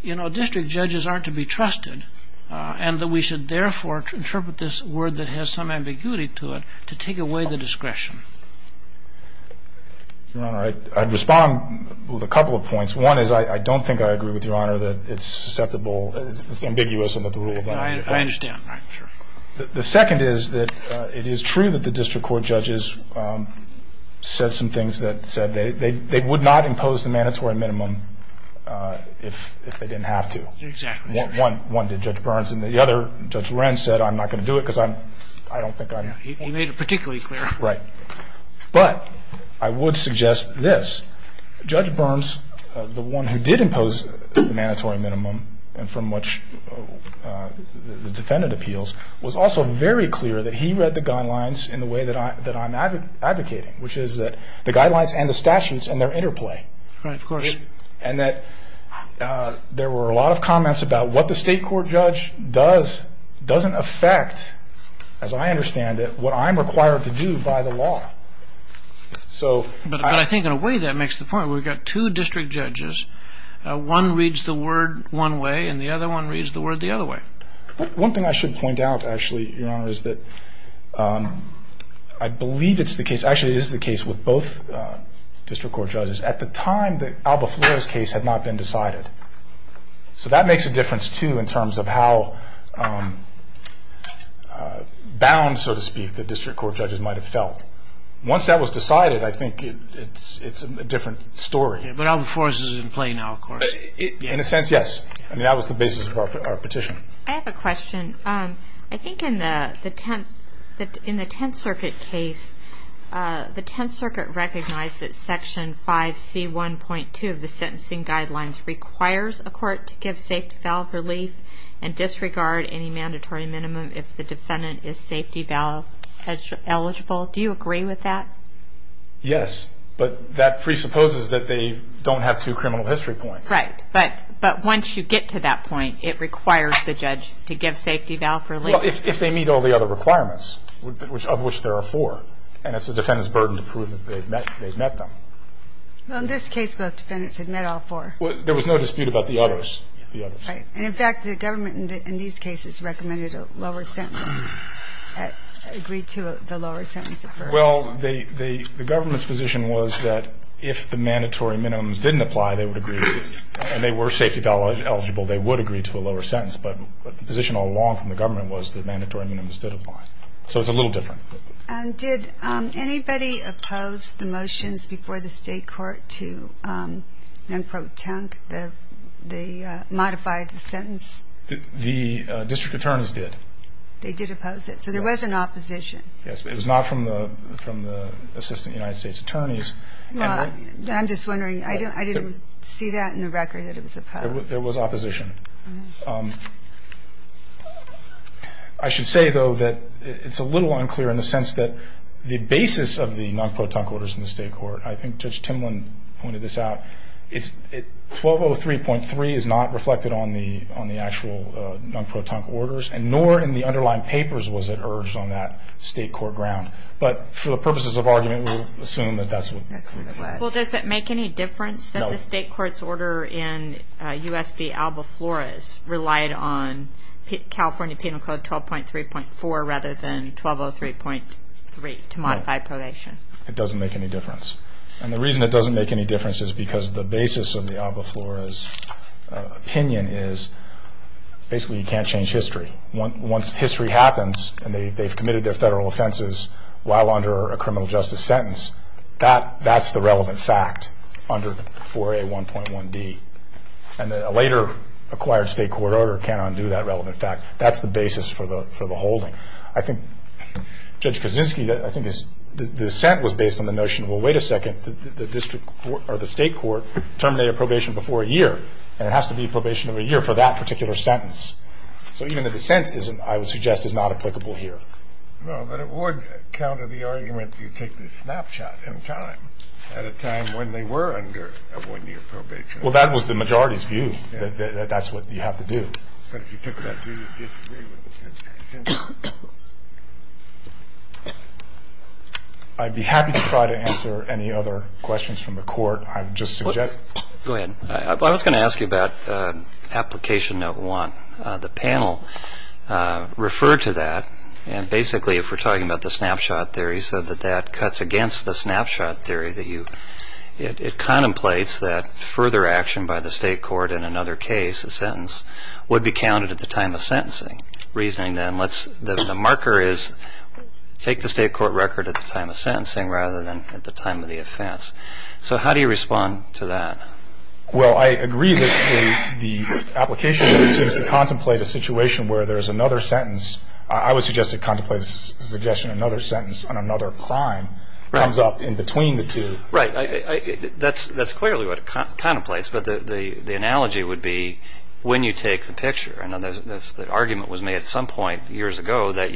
you know, district judges aren't to be trusted and that we should therefore interpret this word that has some ambiguity to it to take away the discretion. Your Honor, I'd respond with a couple of points. One is I don't think I agree with Your Honor that it's susceptible, it's ambiguous about the rule of lenity. I understand. The second is that it is true that the district court judges said some things that said they would not impose the mandatory minimum if they didn't have to. Exactly. One did Judge Burns and the other, Judge Wren, said I'm not going to do it because I don't think I'm. He made it particularly clear. Right. But I would suggest this. Judge Burns, the one who did impose the mandatory minimum and from which the defendant appeals, was also very clear that he read the guidelines in the way that I'm advocating, which is that the guidelines and the statutes and their interplay. Right. Of course. And that there were a lot of comments about what the state court judge does doesn't affect, as I understand it, what I'm required to do by the law. But I think in a way that makes the point. We've got two district judges. One reads the word one way and the other one reads the word the other way. One thing I should point out, actually, Your Honor, is that I believe it's the case, actually it is the case with both district court judges, at the time that Alba Flores' case had not been decided. So that makes a difference too in terms of how bound, so to speak, the district court judges might have felt. Once that was decided, I think it's a different story. But Alba Flores is in play now, of course. In a sense, yes. I mean, that was the basis of our petition. I have a question. I think in the Tenth Circuit case, the Tenth Circuit recognized that Section 5C1.2 of the sentencing guidelines requires a court to give safety valve relief and disregard any mandatory minimum if the defendant is safety valve eligible. Do you agree with that? Yes. But that presupposes that they don't have two criminal history points. Right. But once you get to that point, it requires the judge to give safety valve relief. Well, if they meet all the other requirements, of which there are four, and it's the defendant's burden to prove that they've met them. Well, in this case, both defendants had met all four. There was no dispute about the others. Right. And, in fact, the government in these cases recommended a lower sentence, agreed to the lower sentence. Well, the government's position was that if the mandatory minimums didn't apply, they would agree, and they were safety valve eligible, they would agree to a lower sentence. But the position all along from the government was that mandatory minimums did apply. So it's a little different. Did anybody oppose the motions before the state court to, unquote, tunk the modified sentence? The district attorneys did. They did oppose it. So there was an opposition. Yes, but it was not from the assistant United States attorneys. I'm just wondering. I didn't see that in the record that it was opposed. It was opposition. I should say, though, that it's a little unclear in the sense that the basis of the non-pro-tunk orders in the state court, I think Judge Timlin pointed this out, 1203.3 is not reflected on the actual non-pro-tunk orders, and nor in the underlying papers was it urged on that state court ground. But for the purposes of argument, we'll assume that that's what it was. Well, does it make any difference that the state court's order in U.S. v. Alba Flores relied on California Penal Code 12.3.4 rather than 1203.3 to modify probation? No, it doesn't make any difference. And the reason it doesn't make any difference is because the basis of the Alba Flores opinion is basically you can't change history. Once history happens and they've committed their federal offenses while under a criminal justice sentence, that's the relevant fact under 4A.1.1D. And a later acquired state court order can't undo that relevant fact. That's the basis for the holding. I think Judge Kaczynski, I think the dissent was based on the notion, well, wait a second, the district court or the state court terminated probation before a year, and it has to be probation over a year for that particular sentence. So even the dissent, I would suggest, is not applicable here. No, but it would counter the argument that you take the snapshot in time, at a time when they were under a one-year probation. Well, that was the majority's view, that that's what you have to do. But if you took that view, you'd disagree with the sentence. I'd be happy to try to answer any other questions from the court. I'm just suggesting. Go ahead. I was going to ask you about Application Note 1. The panel referred to that, and basically if we're talking about the snapshot theory, so that that cuts against the snapshot theory that you – it contemplates that further action by the state court in another case, a sentence, would be counted at the time of sentencing. Reasoning then, let's – the marker is take the state court record at the time of sentencing rather than at the time of the offense. So how do you respond to that? Well, I agree that the application seems to contemplate a situation where there's another sentence. I would suggest it contemplates the suggestion another sentence on another crime comes up in between the two. Right. That's clearly what it contemplates, but the analogy would be when you take the picture. I know the argument was made at some point years ago that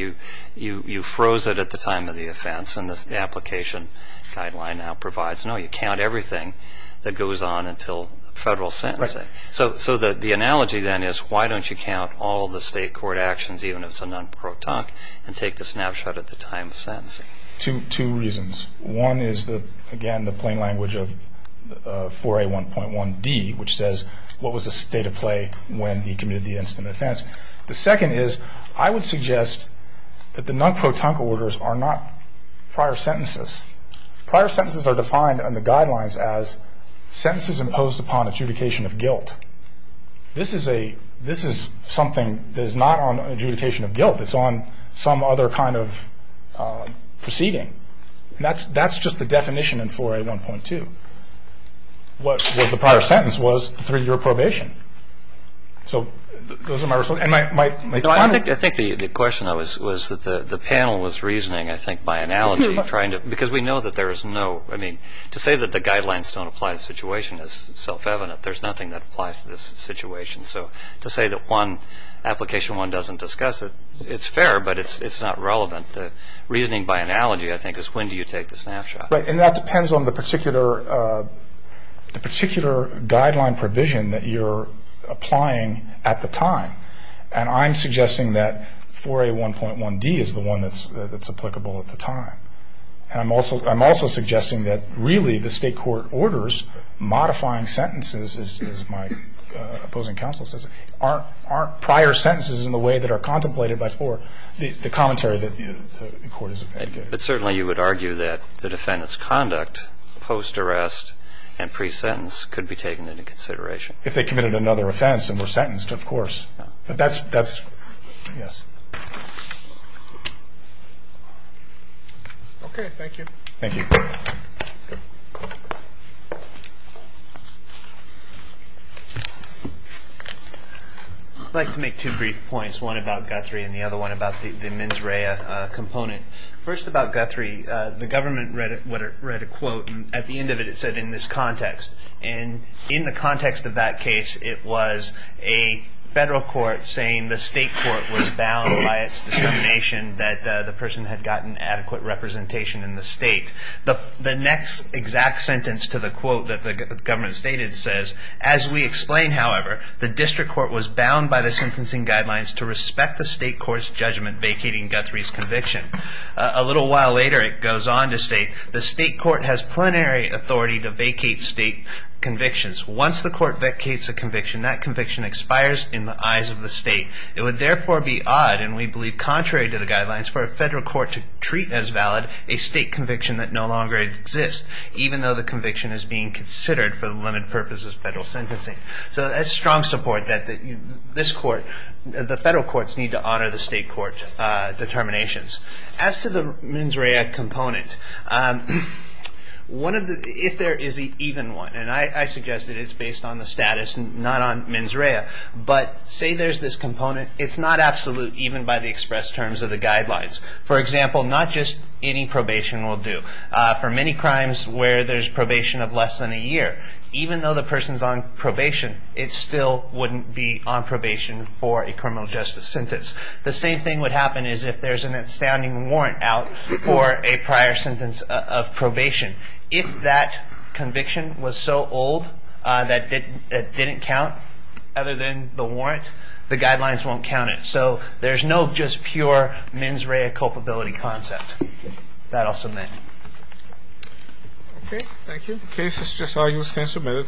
you froze it at the time of the offense, and the application guideline now provides, no, you count everything that goes on until federal sentencing. Right. So the analogy then is why don't you count all the state court actions, even if it's a non-protonc, and take the snapshot at the time of sentencing? Two reasons. One is, again, the plain language of 4A1.1D, which says what was the state of play when he committed the incident of offense. The second is I would suggest that the non-protonc orders are not prior sentences. Prior sentences are defined in the guidelines as sentences imposed upon adjudication of guilt. This is something that is not on adjudication of guilt. It's on some other kind of proceeding. And that's just the definition in 4A1.2. What was the prior sentence was the three-year probation. So those are my results. I think the question was that the panel was reasoning, I think, by analogy, because we know that there is no, I mean, to say that the guidelines don't apply to the situation is self-evident. There's nothing that applies to this situation. So to say that one application, one doesn't discuss it, it's fair, but it's not relevant. The reasoning by analogy, I think, is when do you take the snapshot. And that depends on the particular guideline provision that you're applying at the time. And I'm suggesting that 4A1.1d is the one that's applicable at the time. And I'm also suggesting that, really, the state court orders modifying sentences, as my opposing counsel says, aren't prior sentences in the way that are contemplated by 4, the commentary that the court is advocating. But certainly you would argue that the defendant's conduct post-arrest and pre-sentence could be taken into consideration. If they committed another offense and were sentenced, of course. But that's, yes. Okay, thank you. Thank you. I'd like to make two brief points, one about Guthrie and the other one about the mens rea component. First about Guthrie, the government read a quote, and at the end of it it said, in this context. And in the context of that case, it was a federal court saying the state court was bound by its determination that the person had gotten adequate representation in the state. The next exact sentence to the quote that the government stated says, as we explain, however, the district court was bound by the sentencing guidelines to respect the state court's judgment vacating Guthrie's conviction. A little while later it goes on to state, the state court has plenary authority to vacate state convictions. Once the court vacates a conviction, that conviction expires in the eyes of the state. It would therefore be odd, and we believe contrary to the guidelines, for a federal court to treat as valid a state conviction that no longer exists, even though the conviction is being considered for the limited purposes of federal sentencing. So that's strong support that this court, the federal courts need to honor the state court determinations. As to the mens rea component, if there is an even one, and I suggest that it's based on the status, not on mens rea, but say there's this component, it's not absolute even by the express terms of the guidelines. For example, not just any probation will do. For many crimes where there's probation of less than a year, even though the person's on probation, it still wouldn't be on probation for a criminal justice sentence. The same thing would happen is if there's an outstanding warrant out for a prior sentence of probation. If that conviction was so old that it didn't count, other than the warrant, the guidelines won't count it. So there's no just pure mens rea culpability concept. That also meant. OK, thank you. The case is just all you've seen submitted to adjournment.